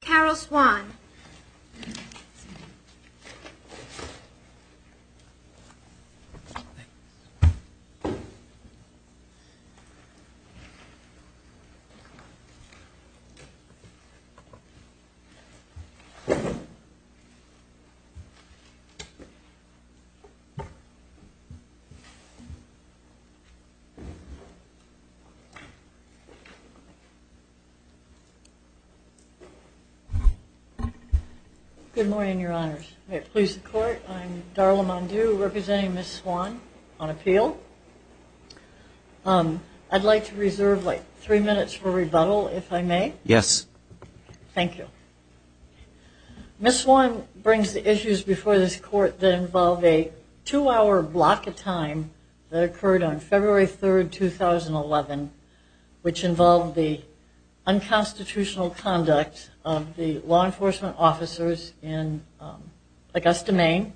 Carol Swan Good morning, Your Honors. May it please the Court, I'm Darla Mondew representing Ms. Swan on appeal. I'd like to reserve three minutes for rebuttal, if I may. Yes. Thank you. Ms. Swan brings the issues before this Court that involve a two-hour block of time that occurred on February 3, 2011, which involved the unconstitutional conduct of the law enforcement officers in Augusta, Maine.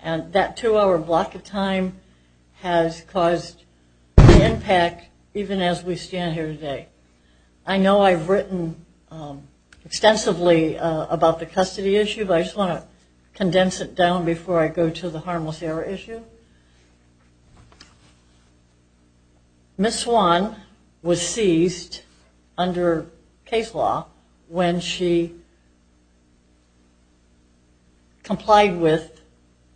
And that two-hour block of time has caused the impact even as we stand here today. I know I've written extensively about the custody issue, but I just want to condense it down before I go to the harmless error issue. Ms. Swan was seized under case law when she complied with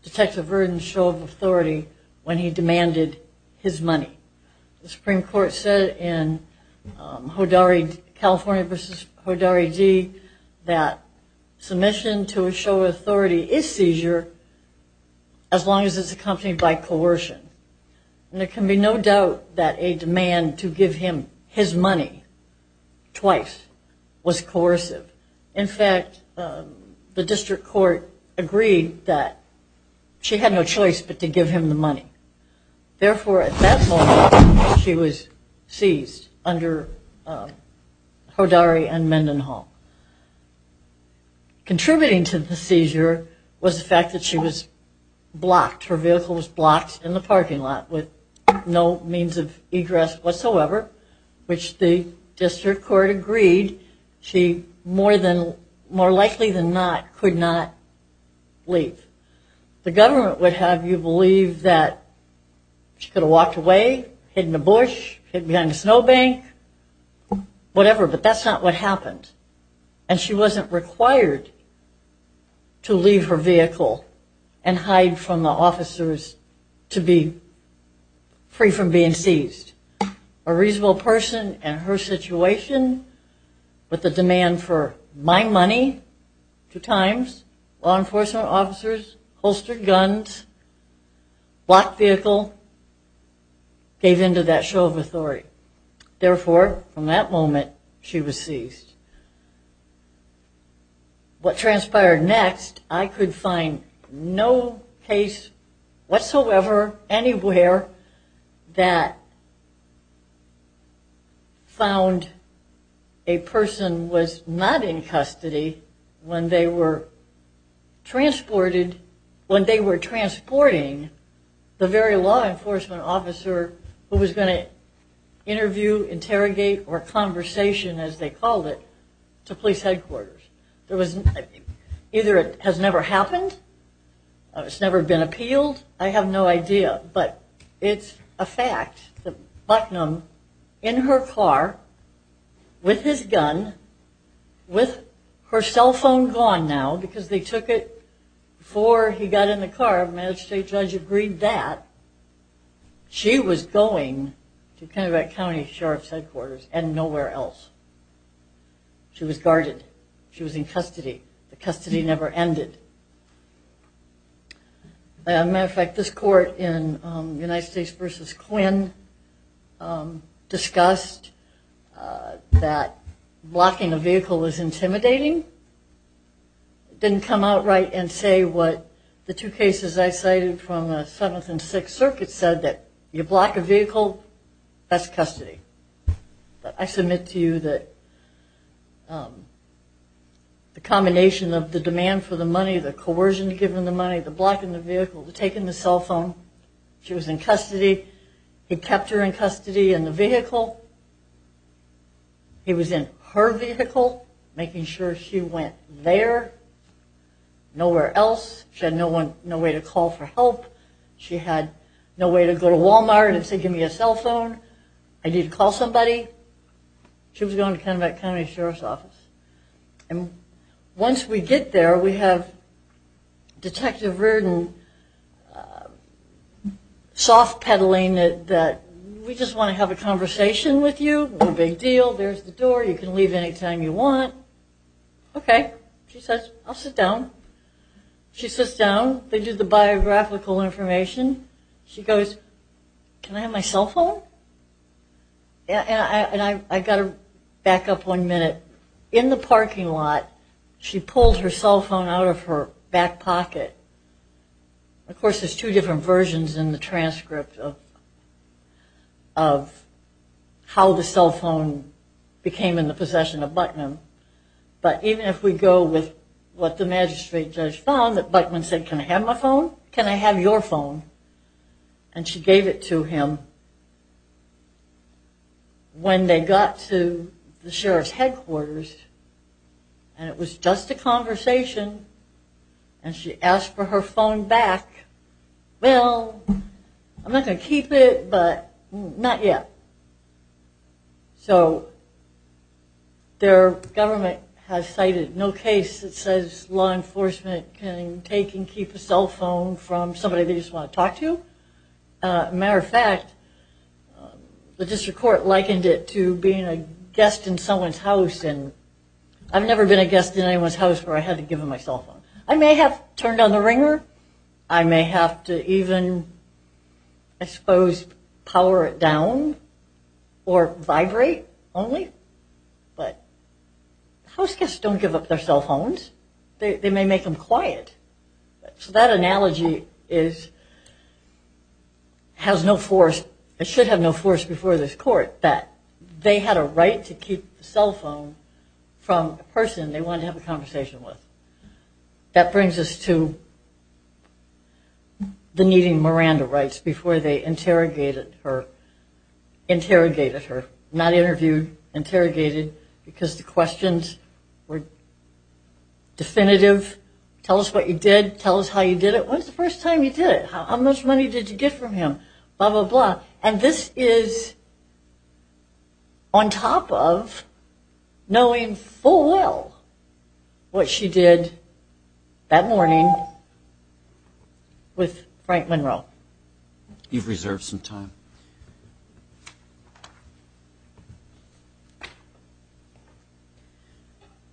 Detective Verdon's show of authority when he demanded his money. The Supreme Court said in California v. Hodari D. that submission to a show of authority is seizure as long as it's accompanied by coercion. And there can be no doubt that a demand to give him his money twice was coercive. In fact, the district court agreed that she had no choice but to give him the money. Therefore, at that moment, she was seized under Hodari and Mendenhall. Contributing to the seizure was the fact that she was blocked, her vehicle was blocked in the parking lot with no means of egress whatsoever, which the district court agreed she more likely than not could not leave. The government would have you believe that she could have walked away, hidden in a bush, hidden behind a snow bank, whatever, but that's not what happened. And she wasn't required to leave her vehicle and hide from the officers to be free from being seized. A reasonable person in her situation with a demand for my money two times, law enforcement officers, holstered guns, blocked vehicle, gave in to that show of authority. Therefore, from that moment, she was seized. What transpired next, I could find no case whatsoever, anywhere, that found a person was not in custody when they were transported, when they were transporting the very law enforcement officer who was going to interview, interrogate, or conversation, as they called it, to police headquarters. Either it has never happened, it's never been appealed, I have no idea, but it's a fact that Bucknum, in her car, with his gun, with her cell phone gone now, because they took it before he got in the car. And the county sheriff's magistrate judge agreed that she was going to Kennebec County Sheriff's headquarters and nowhere else. She was guarded. She was in custody. The custody never ended. As a matter of fact, this court in United States v. Quinn discussed that blocking a vehicle was intimidating. Didn't come out right and say what the two cases I cited from the 7th and 6th circuits said, that you block a vehicle, that's custody. But I submit to you that the combination of the demand for the money, the coercion to give them the money, the blocking the vehicle, the taking the cell phone, she was in custody. He kept her in custody in the vehicle. She went there, nowhere else. She had no way to call for help. She had no way to go to Walmart and say, give me a cell phone. I need to call somebody. She was going to Kennebec County Sheriff's Office. And once we get there, we have Detective Rudin soft pedaling that we just want to have a conversation with you. No big deal. There's the door. You can leave anytime you want. Okay. She says, I'll sit down. She sits down. They do the biographical information. She goes, can I have my cell phone? And I got to back up one minute. In the parking lot, she pulled her cell phone out of her back pocket. Of course, there's two different versions in the transcript of how the cell phone works. It became in the possession of Buckman. But even if we go with what the magistrate judge found, that Buckman said, can I have my phone? Can I have your phone? And she gave it to him. When they got to the sheriff's headquarters, and it was just a conversation, and she asked for her phone back. Well, I'm not going to keep it, but not yet. So their government has cited no case that says law enforcement can take and keep a cell phone from somebody they just want to talk to. Matter of fact, the district court likened it to being a guest in someone's house. And I've never been a guest in anyone's house where I had to give them my cell phone. I may have turned on the ringer. I may have to even, I suppose, power it down or vibrate only. But house guests don't give up their cell phones. They may make them quiet. So that analogy has no force, it should have no force before this court, that they had a right to keep the cell phone from a person they wanted to have a conversation with. That brings us to the needing Miranda rights before they interrogated her. Not interviewed, interrogated, because the questions were definitive. Tell us what you did. Tell us how you did it. When's the first time you did it? How much money did you get from him? Blah, blah, blah. And this is on top of knowing full well what she did that morning with Frank Monroe. You've reserved some time.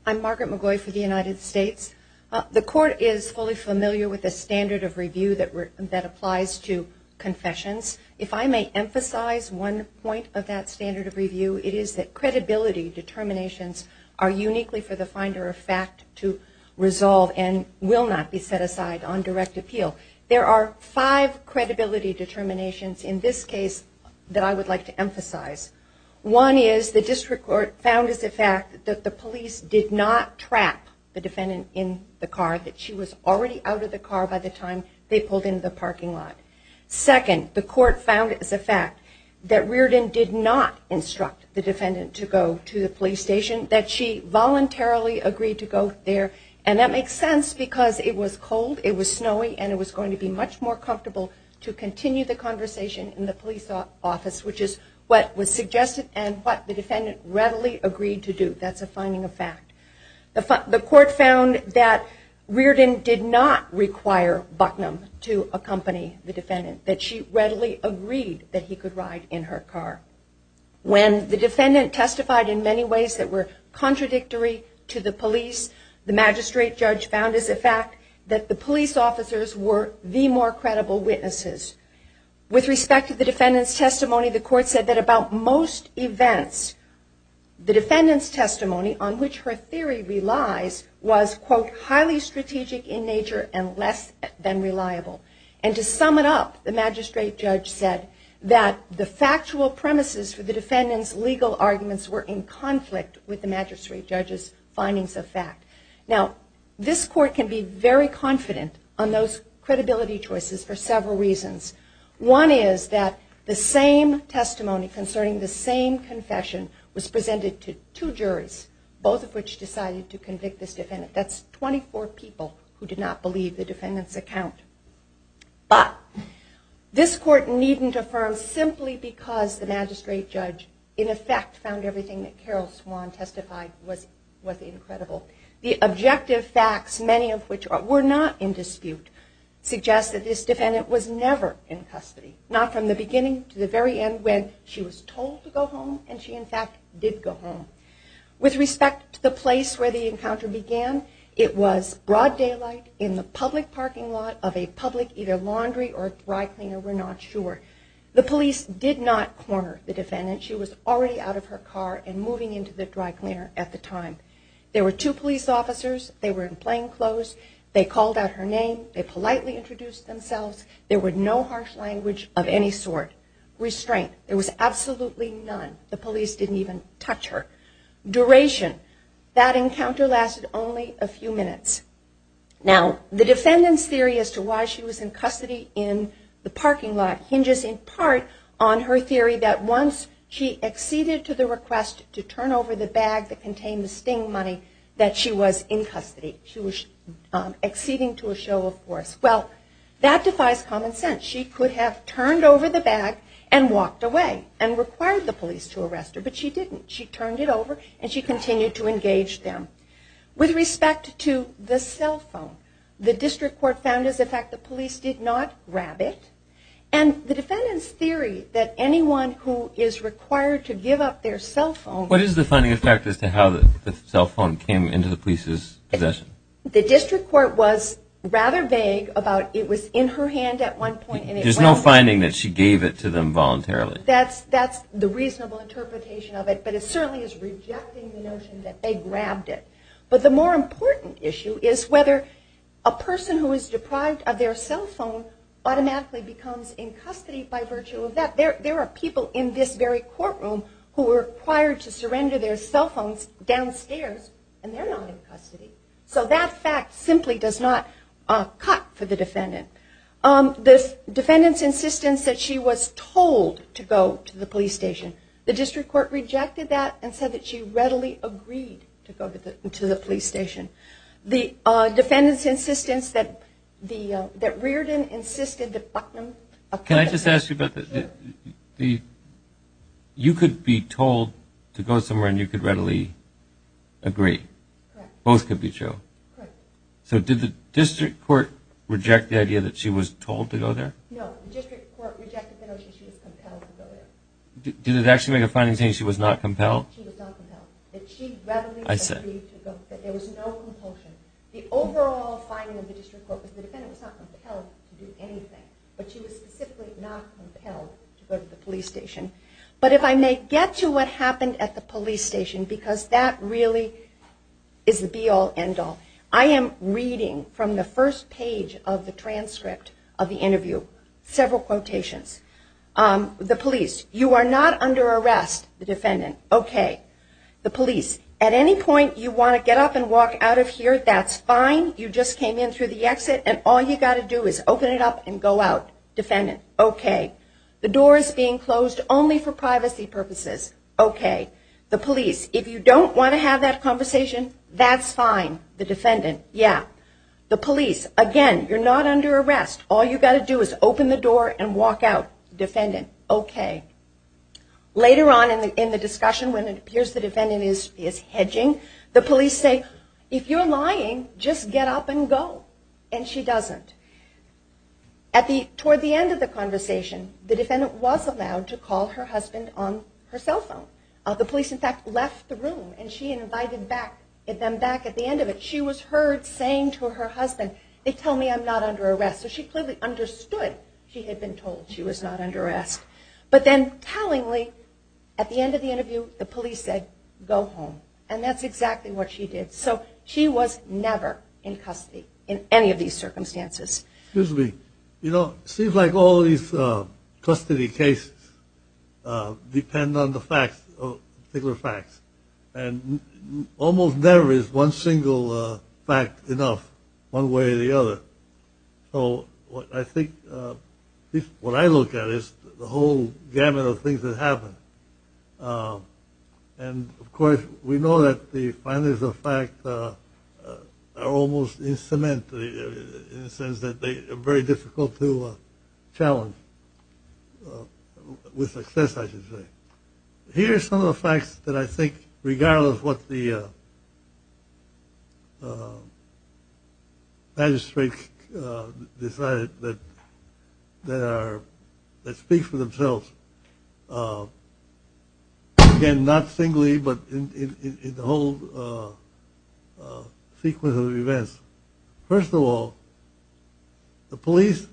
I'm Margaret McGoy for the United States. The court is fully familiar with the standard of review that applies to confessions. If I may emphasize one point of that standard of review, it is that credibility determinations are uniquely for the finder of fact to resolve and will not be set aside on direct appeal. There are five credibility determinations in this case that I would like to emphasize. One is the district court found as a fact that the police did not trap the defendant in the car, that she was already out of the car by the time they pulled into the parking lot. Second, the court found as a fact that Reardon did not instruct the defendant to go to the police station, that she voluntarily agreed to go there, and that makes sense because it was cold, it was snowy, and it was going to be much more comfortable to continue the conversation in the police office, which is what was suggested and what the defendant readily agreed to do. That's a finding of fact. The court found that Reardon did not require Bucknum to accompany the defendant, that she readily agreed that he could ride in her car. When the defendant testified in many ways that were contradictory to the police, the magistrate judge found as a fact that the police officers were the more credible witnesses. With respect to the defendant's testimony, the court said that about most events, the defendant's testimony on which her theory relies was, quote, highly strategic in nature and less than reliable. And to sum it up, the magistrate judge said that the factual premises for the defendant's legal arguments were in conflict with the magistrate judge's findings of fact. Now, this court can be very confident on those credibility choices for several reasons. One is that the same testimony concerning the same confession was presented to two juries, both of which decided to convict this defendant. That's 24 people who did not believe the defendant's account. But this court needn't affirm simply because the magistrate judge in effect found everything that Carol Swan testified was incredible. The objective facts, many of which were not in dispute, suggest that this defendant was never in custody, not from the beginning to the very end when she was told to go home and she in fact did go home. With respect to the place where the encounter began, it was broad daylight in the public parking lot of a public either laundry or dry cleaner, we're not sure. The police did not corner the defendant. She was already out of her car and moving into the dry cleaner at the time. There were two police officers. They were in plain clothes. They called out her name. They politely introduced themselves. There were no harsh language of any sort. Restraint. There was absolutely none. The police didn't even touch her. Duration. That encounter lasted only a few minutes. Now the defendant's theory as to why she was in custody in the parking lot hinges in part on her theory that once she exceeded to the request to turn over the bag that contained the sting money that she was in custody. She was exceeding to a show of force. Well, that defies common sense. She could have turned over the bag and walked away and required the police to arrest her, but she didn't. She turned it over and walked away. She continued to engage them. With respect to the cell phone, the district court found as a fact the police did not grab it. And the defendant's theory that anyone who is required to give up their cell phone... What is the finding as to how the cell phone came into the police's possession? The district court was rather vague about it was in her hand at one point. There's no finding that she gave it to them voluntarily. The more important issue is whether a person who is deprived of their cell phone automatically becomes in custody by virtue of that. There are people in this very courtroom who are required to surrender their cell phones downstairs and they're not in custody. So that fact simply does not cut for the defendant. The defendant's insistence that she was told to go to the police station. The district court rejected that and said that she readily agreed to go to the police station. The defendant's insistence that Reardon insisted that Bucknum... Can I just ask you about that? You could be told to go somewhere and you could readily agree. Both could be true. So did the district court reject the idea that she was told to go there? No. The district court rejected the notion that she was compelled to go there. Did it actually make a finding that she was not compelled? She was not compelled. That she readily agreed to go. That there was no compulsion. The overall finding of the district court was that the defendant was not compelled to do anything. But she was specifically not compelled to go to the police station. But if I may get to what happened at the police station because that really is the be-all end-all. I am reading from the first page of the transcript of the interview several quotations. The police. You are not under arrest. The defendant. Okay. The police. At any point you want to get up and walk out of here, that's fine. You just came in through the exit and all you got to do is open it up and go out. Defendant. Okay. The door is being closed only for privacy purposes. Okay. The police. If you don't want to have that conversation, that's fine. The defendant. Yeah. The police. Again, you're not under arrest. All you got to do is open the door and walk out. Defendant. Okay. Later on in the discussion when it appears the defendant is hedging, the police say, if you're lying, just get up and go. And she doesn't. Toward the end of the conversation, the defendant was allowed to call her husband on her cell phone. The police in fact left the room and she invited them back at the end of the conversation. She was heard saying to her husband, they tell me I'm not under arrest. So she clearly understood she had been told she was not under arrest. But then tellingly, at the end of the interview, the police said, go home. And that's exactly what she did. So she was never in custody in any of these circumstances. Excuse me. You know, it seems like all these custody cases depend on the facts, particular facts. And almost never is one single fact enough one way or the other. So I think what I look at is the whole gamut of things that happen. And of course, we know that the findings of fact are almost in cement in the sense that they are very difficult to challenge with success, I should say. Here are some of the facts that I think regardless what the magistrate decided that speak for themselves. Again, not singly, but in the whole sequence of events. First of all, the police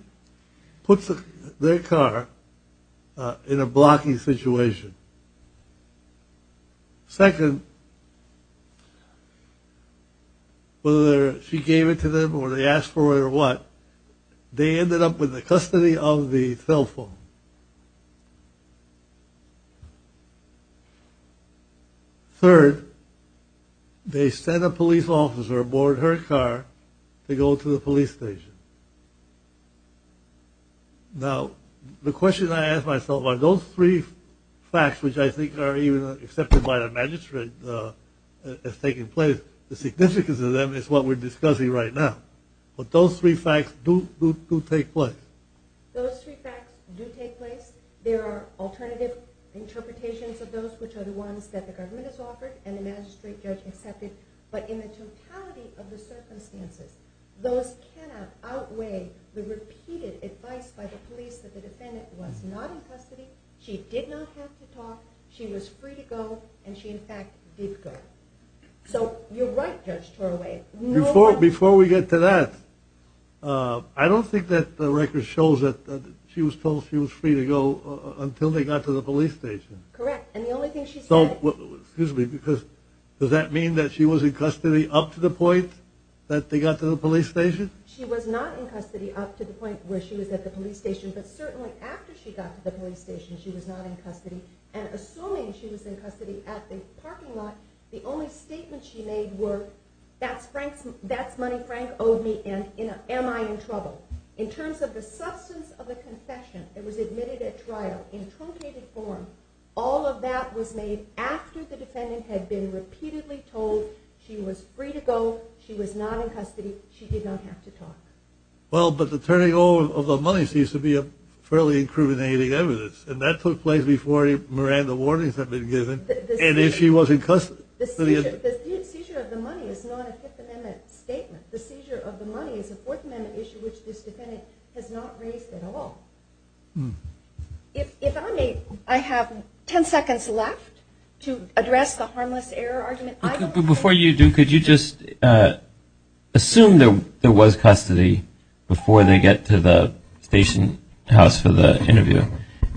put their car in a blocking situation. Second, whether she gave it to them or they asked for it or what, they ended up with the custody of the cell phone. Third, they sent a police officer aboard her car to go to the police station. Now, the question I ask myself, are those three facts correct? Those three facts, which I think are even accepted by the magistrate, the significance of them is what we're discussing right now. But those three facts do take place. Those three facts do take place. There are alternative interpretations of those, which are the ones that the government has offered and the magistrate judge accepted. But in the totality of the circumstances, those cannot outweigh the repeated advice by the police that the defendant was not in custody, she did not have to talk, she was free to go, and she in fact did go. So you're right, Judge Toraway. Before we get to that, I don't think that the record shows that she was told she was free to go until they got to the police station. Correct, and the only thing she said... Excuse me, does that mean that she was in custody up to the point that they got to the police station? She was not in custody up to the point where she was at the police station, but certainly after she got to the police station, she was not in custody. And assuming she was in custody at the parking lot, the only statements she made were, that's money Frank owed me and am I in trouble? In terms of the substance of the confession that was admitted at trial, in truncated form, all of that was made after the defendant had been repeatedly told she was free to go, she was not in custody, she did not have to talk. Well, but the turning over of the money seems to be a fairly incriminating evidence, and that took place before Miranda warnings had been given, and if she was in custody... The seizure of the money is not a Fifth Amendment statement. The seizure of the money is a Fourth Amendment issue which this defendant has not raised at all. If I may, I have 10 seconds left to address the harmless error argument. Before you do, could you just assume there was custody before they get to the station house for the interview,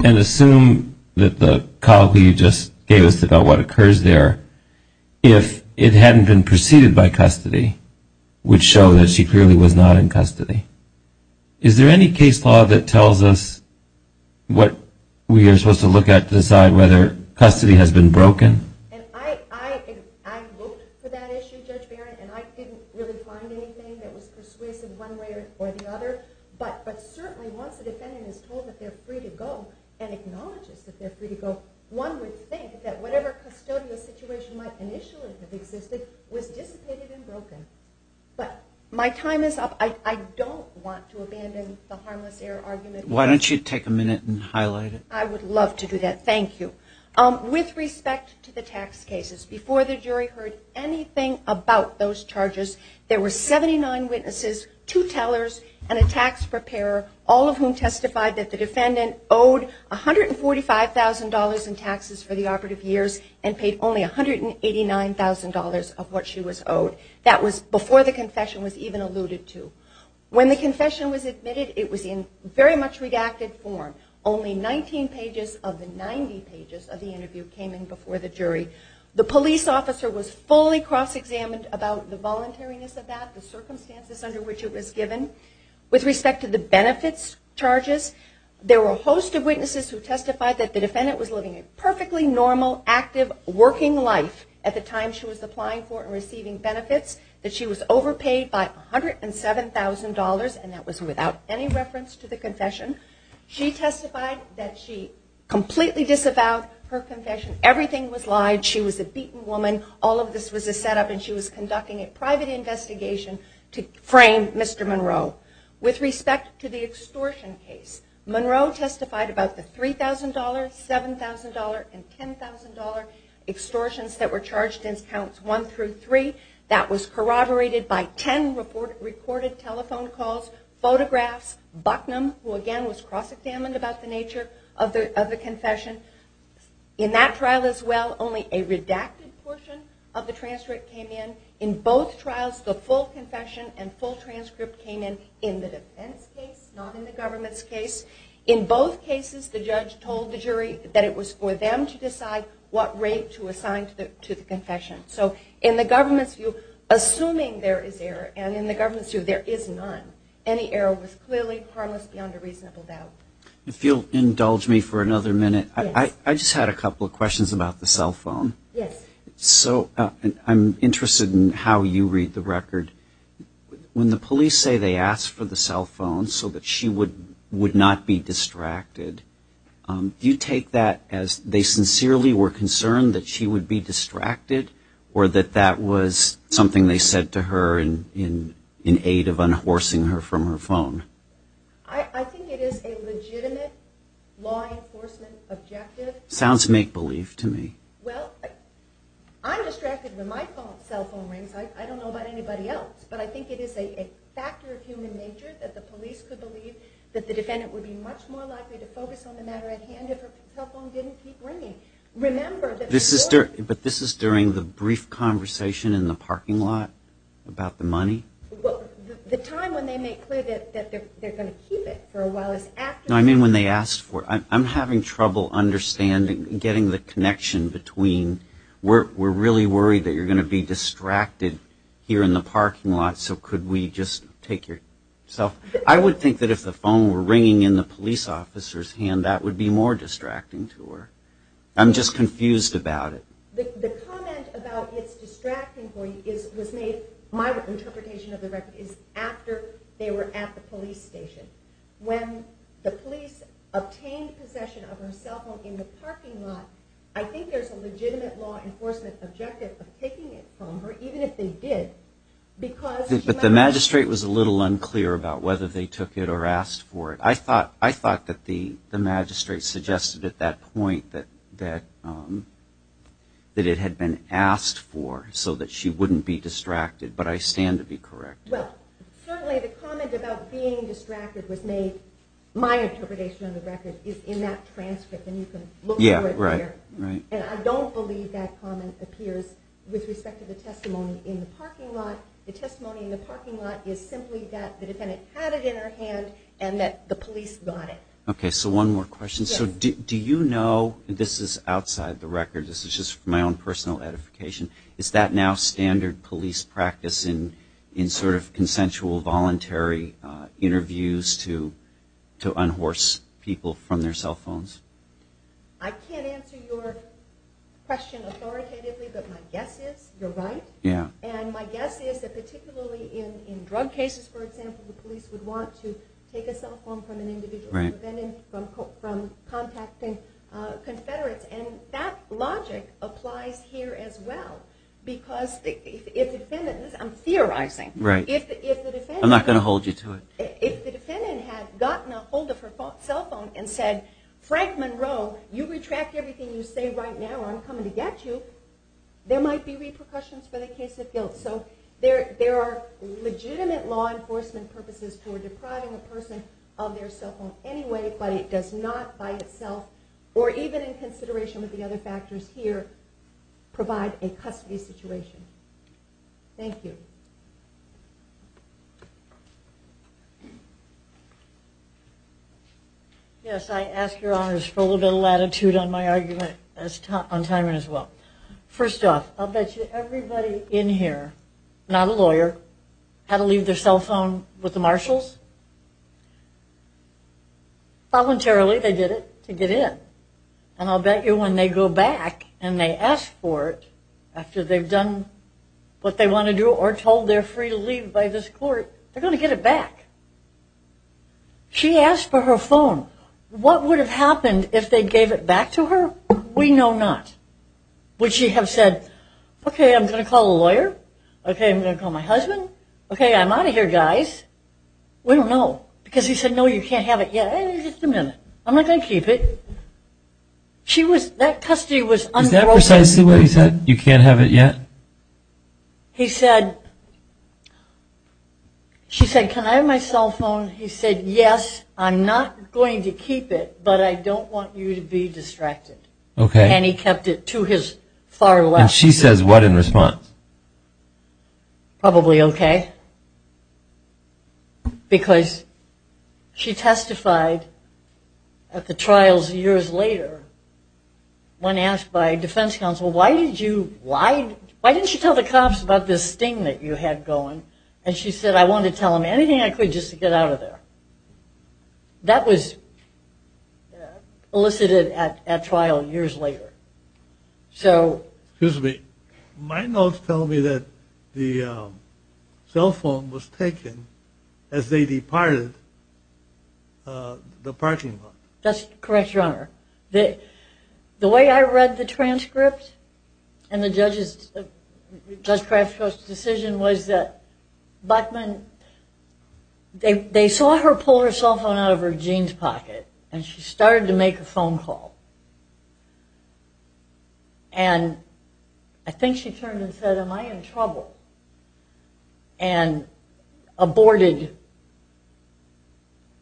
and assume that the colleague you just gave us about what occurs there, if it hadn't been preceded by custody, would show that she clearly was not in custody. Is there any case law that tells us what we are supposed to look at to decide whether custody has been broken? I looked for that issue, Judge Barrett, and I didn't really find anything that was persuasive one way or the other, but certainly once a defendant is told that they're free to go and acknowledges that they're free to go, one would think that whatever custodial situation might initially have existed was dissipated and broken. But my time is up. I don't want to abandon the harmless error argument. Why don't you take a minute and highlight it? I would love to do that. Thank you. With respect to the tax cases, before the jury heard anything about those charges, there were 79 witnesses, two tellers, and a tax preparer, all of whom testified that the defendant owed $145,000 in taxes for the operative years, and paid only $189,000 of what she was owed. That was before the confession was even alluded to. When the confession was admitted, it was in very much redacted form. Only 19 pages of the 90 pages of the interview came in before the jury. The police officer was fully cross-examined about the voluntariness of that, the circumstances under which it was given. With respect to the benefits charges, there were a host of witnesses who testified that the defendant was living a perfectly normal, active, working life at the time she was applying for and receiving benefits, that she was overpaid by $107,000, and that was without any reference to the confession. She testified that she completely disavowed her confession. Everything was lied. She was a beaten woman. All of this was a setup, and she was conducting a private investigation to frame Mr. Monroe. With respect to the extortion case, Monroe testified about the $3,000, $7,000, and $10,000 extortions that were charged in counts 1 through 3 that was corroborated by 10 recorded telephone calls, photographs, Bucknum, who again was cross-examined about the nature of the confession. In that trial as well, only a redacted portion of the transcript came in. In both trials, the full confession and full transcript came in in the defense case, not in the government's case. In both cases, the judge told the jury that it was for them to decide what rate to assign to the confession. In the government's view, assuming there is error, and in the government's view, there is none, any error was clearly harmless beyond a reasonable doubt. If you'll indulge me for another minute, I just had a couple of questions about the cell phone. I'm interested in how you read the record. When the police say they asked for the cell phone so that she would not be distracted, do you take that as they sincerely were concerned that she would be distracted, or that that was something they said to her in aid of unhorsing her from her phone? I think it is a legitimate law enforcement objective. Sounds make-believe to me. Well, I'm distracted when my cell phone rings. I don't know about anybody else, but I think it is a factor of human nature that the police could believe that the defendant would be much more likely to focus on the matter at hand if her cell phone didn't keep ringing. But this is during the brief conversation in the parking lot about the money? The time when they make clear that they're going to keep it for a while is after... No, I mean when they asked for it. I'm having trouble understanding, getting the connection between we're really worried that you're going to be distracted here in the parking lot, so could we just take your cell phone? I would think that if the phone were ringing in the police officer's hand, that would be more distracting to her. I'm just confused about it. The comment about it's distracting for you was made, my interpretation of the record, is after they were at the police station. When the police obtained possession of her cell phone in the parking lot, I think there's a legitimate law enforcement objective of taking it from her, even if they did. But the magistrate was a little unclear about whether they took it or asked for it. I thought that the magistrate suggested at that point that it had been asked for so that she wouldn't be distracted, but I stand to be corrected. Well, certainly the comment about being distracted was made, my interpretation of the record, is in that transcript, and you can look for it there. And I don't believe that comment appears with respect to the testimony in the parking lot. The testimony in the parking lot is simply that the defendant had it in her hand and that the police got it. Okay, so one more question. So do you know, this is outside the record, this is just my own personal edification, is that now standard police practice in sort of consensual, voluntary interviews to unhorse people from their cell phones? I can't answer your question authoritatively, but my guess is you're right. And my guess is that particularly in drug cases, for example, the police would want to take a cell phone from an individual from contacting confederates. And that logic applies here as well. Because if the defendant, I'm theorizing. I'm not going to hold you to it. If the defendant had gotten ahold of her cell phone and said, Frank Monroe, you retract everything you say right now or I'm coming to get you, there might be repercussions for the case of guilt. So there are legitimate law enforcement purposes for depriving a person of their cell phone anyway, but it does not by itself or even in consideration of the other factors here provide a custody situation. Thank you. Yes, I ask your honors for a little bit of latitude on my argument on timing as well. First off, I'll bet you everybody in here, not a lawyer, had to leave their cell phone with the marshals. Voluntarily they did it to get in. And I'll bet you when they go back and they ask for it after they've done what they want to do or told they're free to leave by this court, they're going to get it back. She asked for her phone. What would have happened if they gave it back to her? We know not. Would she have said, okay, I'm going to call a lawyer? Okay, I'm going to call my husband? Okay, I'm out of here, guys. We don't know because he said, no, you can't have it yet. Just a minute. I'm not going to keep it. Is that precisely what he said, you can't have it yet? He said, she said, can I have my cell phone? He said, yes, I'm not going to keep it, but I don't want you to be distracted. And he kept it to his far left. And she says what in response? Probably okay. Because she testified at the trials years later when asked by defense counsel, why didn't you tell the cops about this thing that you had going? And she said, I wanted to tell them anything I could just to get out of there. That was elicited at trial years later. Excuse me. My notes tell me that the cell phone was taken as they departed the parking lot. That's correct, your honor. The way I read the transcript and the judge's decision was that they saw her pull her cell phone out of her jeans pocket and she started to make a phone call. And I think she turned and said, am I in trouble? And aborted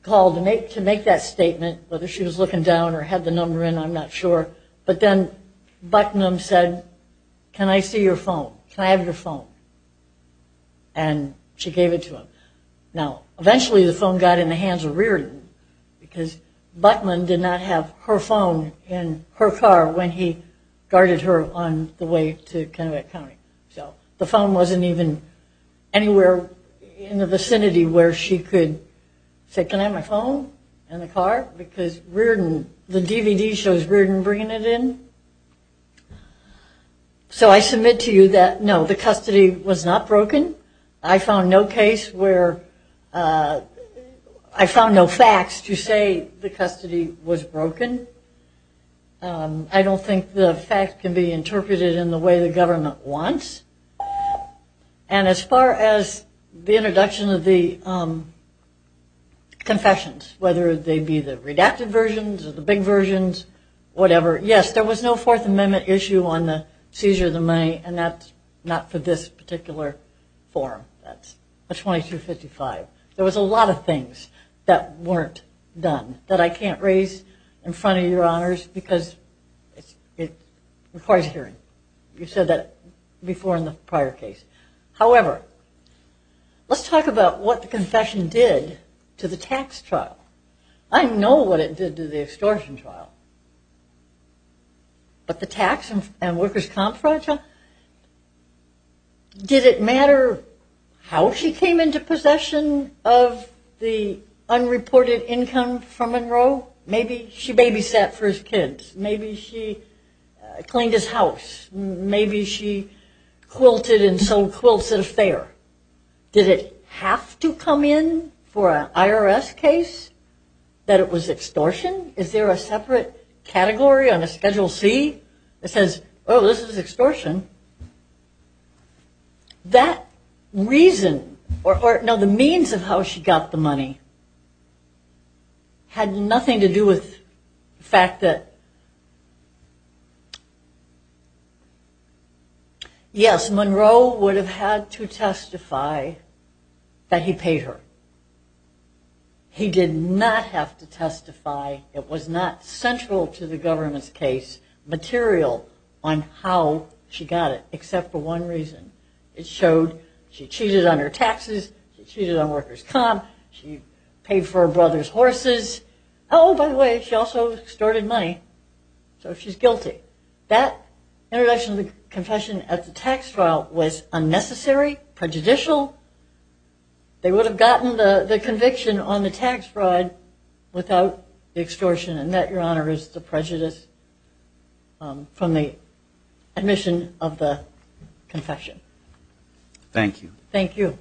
call to make that statement, whether she was looking down or had the number in, I'm not sure. But then Buttonham said, can I see your phone? Can I have your phone? And she gave it to him. Now, eventually the phone got in the hands of Reardon because Buttonham did not have her phone in her car when he guarded her on the way to Connecticut County. So the phone wasn't even anywhere in the vicinity where she could say, can I have my phone in the car? Because Reardon, the DVD shows Reardon bringing it in. So I submit to you that, no, the custody was not broken. I found no case where I found no facts to say the custody was broken. I don't think the fact can be interpreted in the way the government wants. And as far as the introduction of the confessions, whether they be the redacted versions or the big versions, whatever, yes, there was no Fourth Amendment issue on the seizure of the money, and that's not for this particular form. That's 2255. There was a lot of things that weren't done that I can't raise in front of your honors because it requires hearing. You said that before in the prior case. However, let's talk about what the confession did to the tax trial. I know what it did to the extortion trial. But the tax and workers' comp fraud trial, did it matter how she came into possession of the unreported income from Monroe? Maybe she babysat for his kids. Maybe she cleaned his house. Did it have to come in for an IRS case that it was extortion? Is there a separate category on a Schedule C that says, oh, this is extortion? That reason or the means of how she got the money had nothing to do with the fact that, yes, Monroe would have had to testify that he paid her. He did not have to testify. It was not central to the government's case material on how she got it except for one reason. It showed she cheated on her taxes. She cheated on workers' comp. She paid for her brother's horses. Oh, by the way, she also extorted money, so she's guilty. If that introduction of the confession at the tax trial was unnecessary, prejudicial, they would have gotten the conviction on the tax fraud without the extortion, and that, Your Honor, is the prejudice from the admission of the confession. Thank you. Thank you.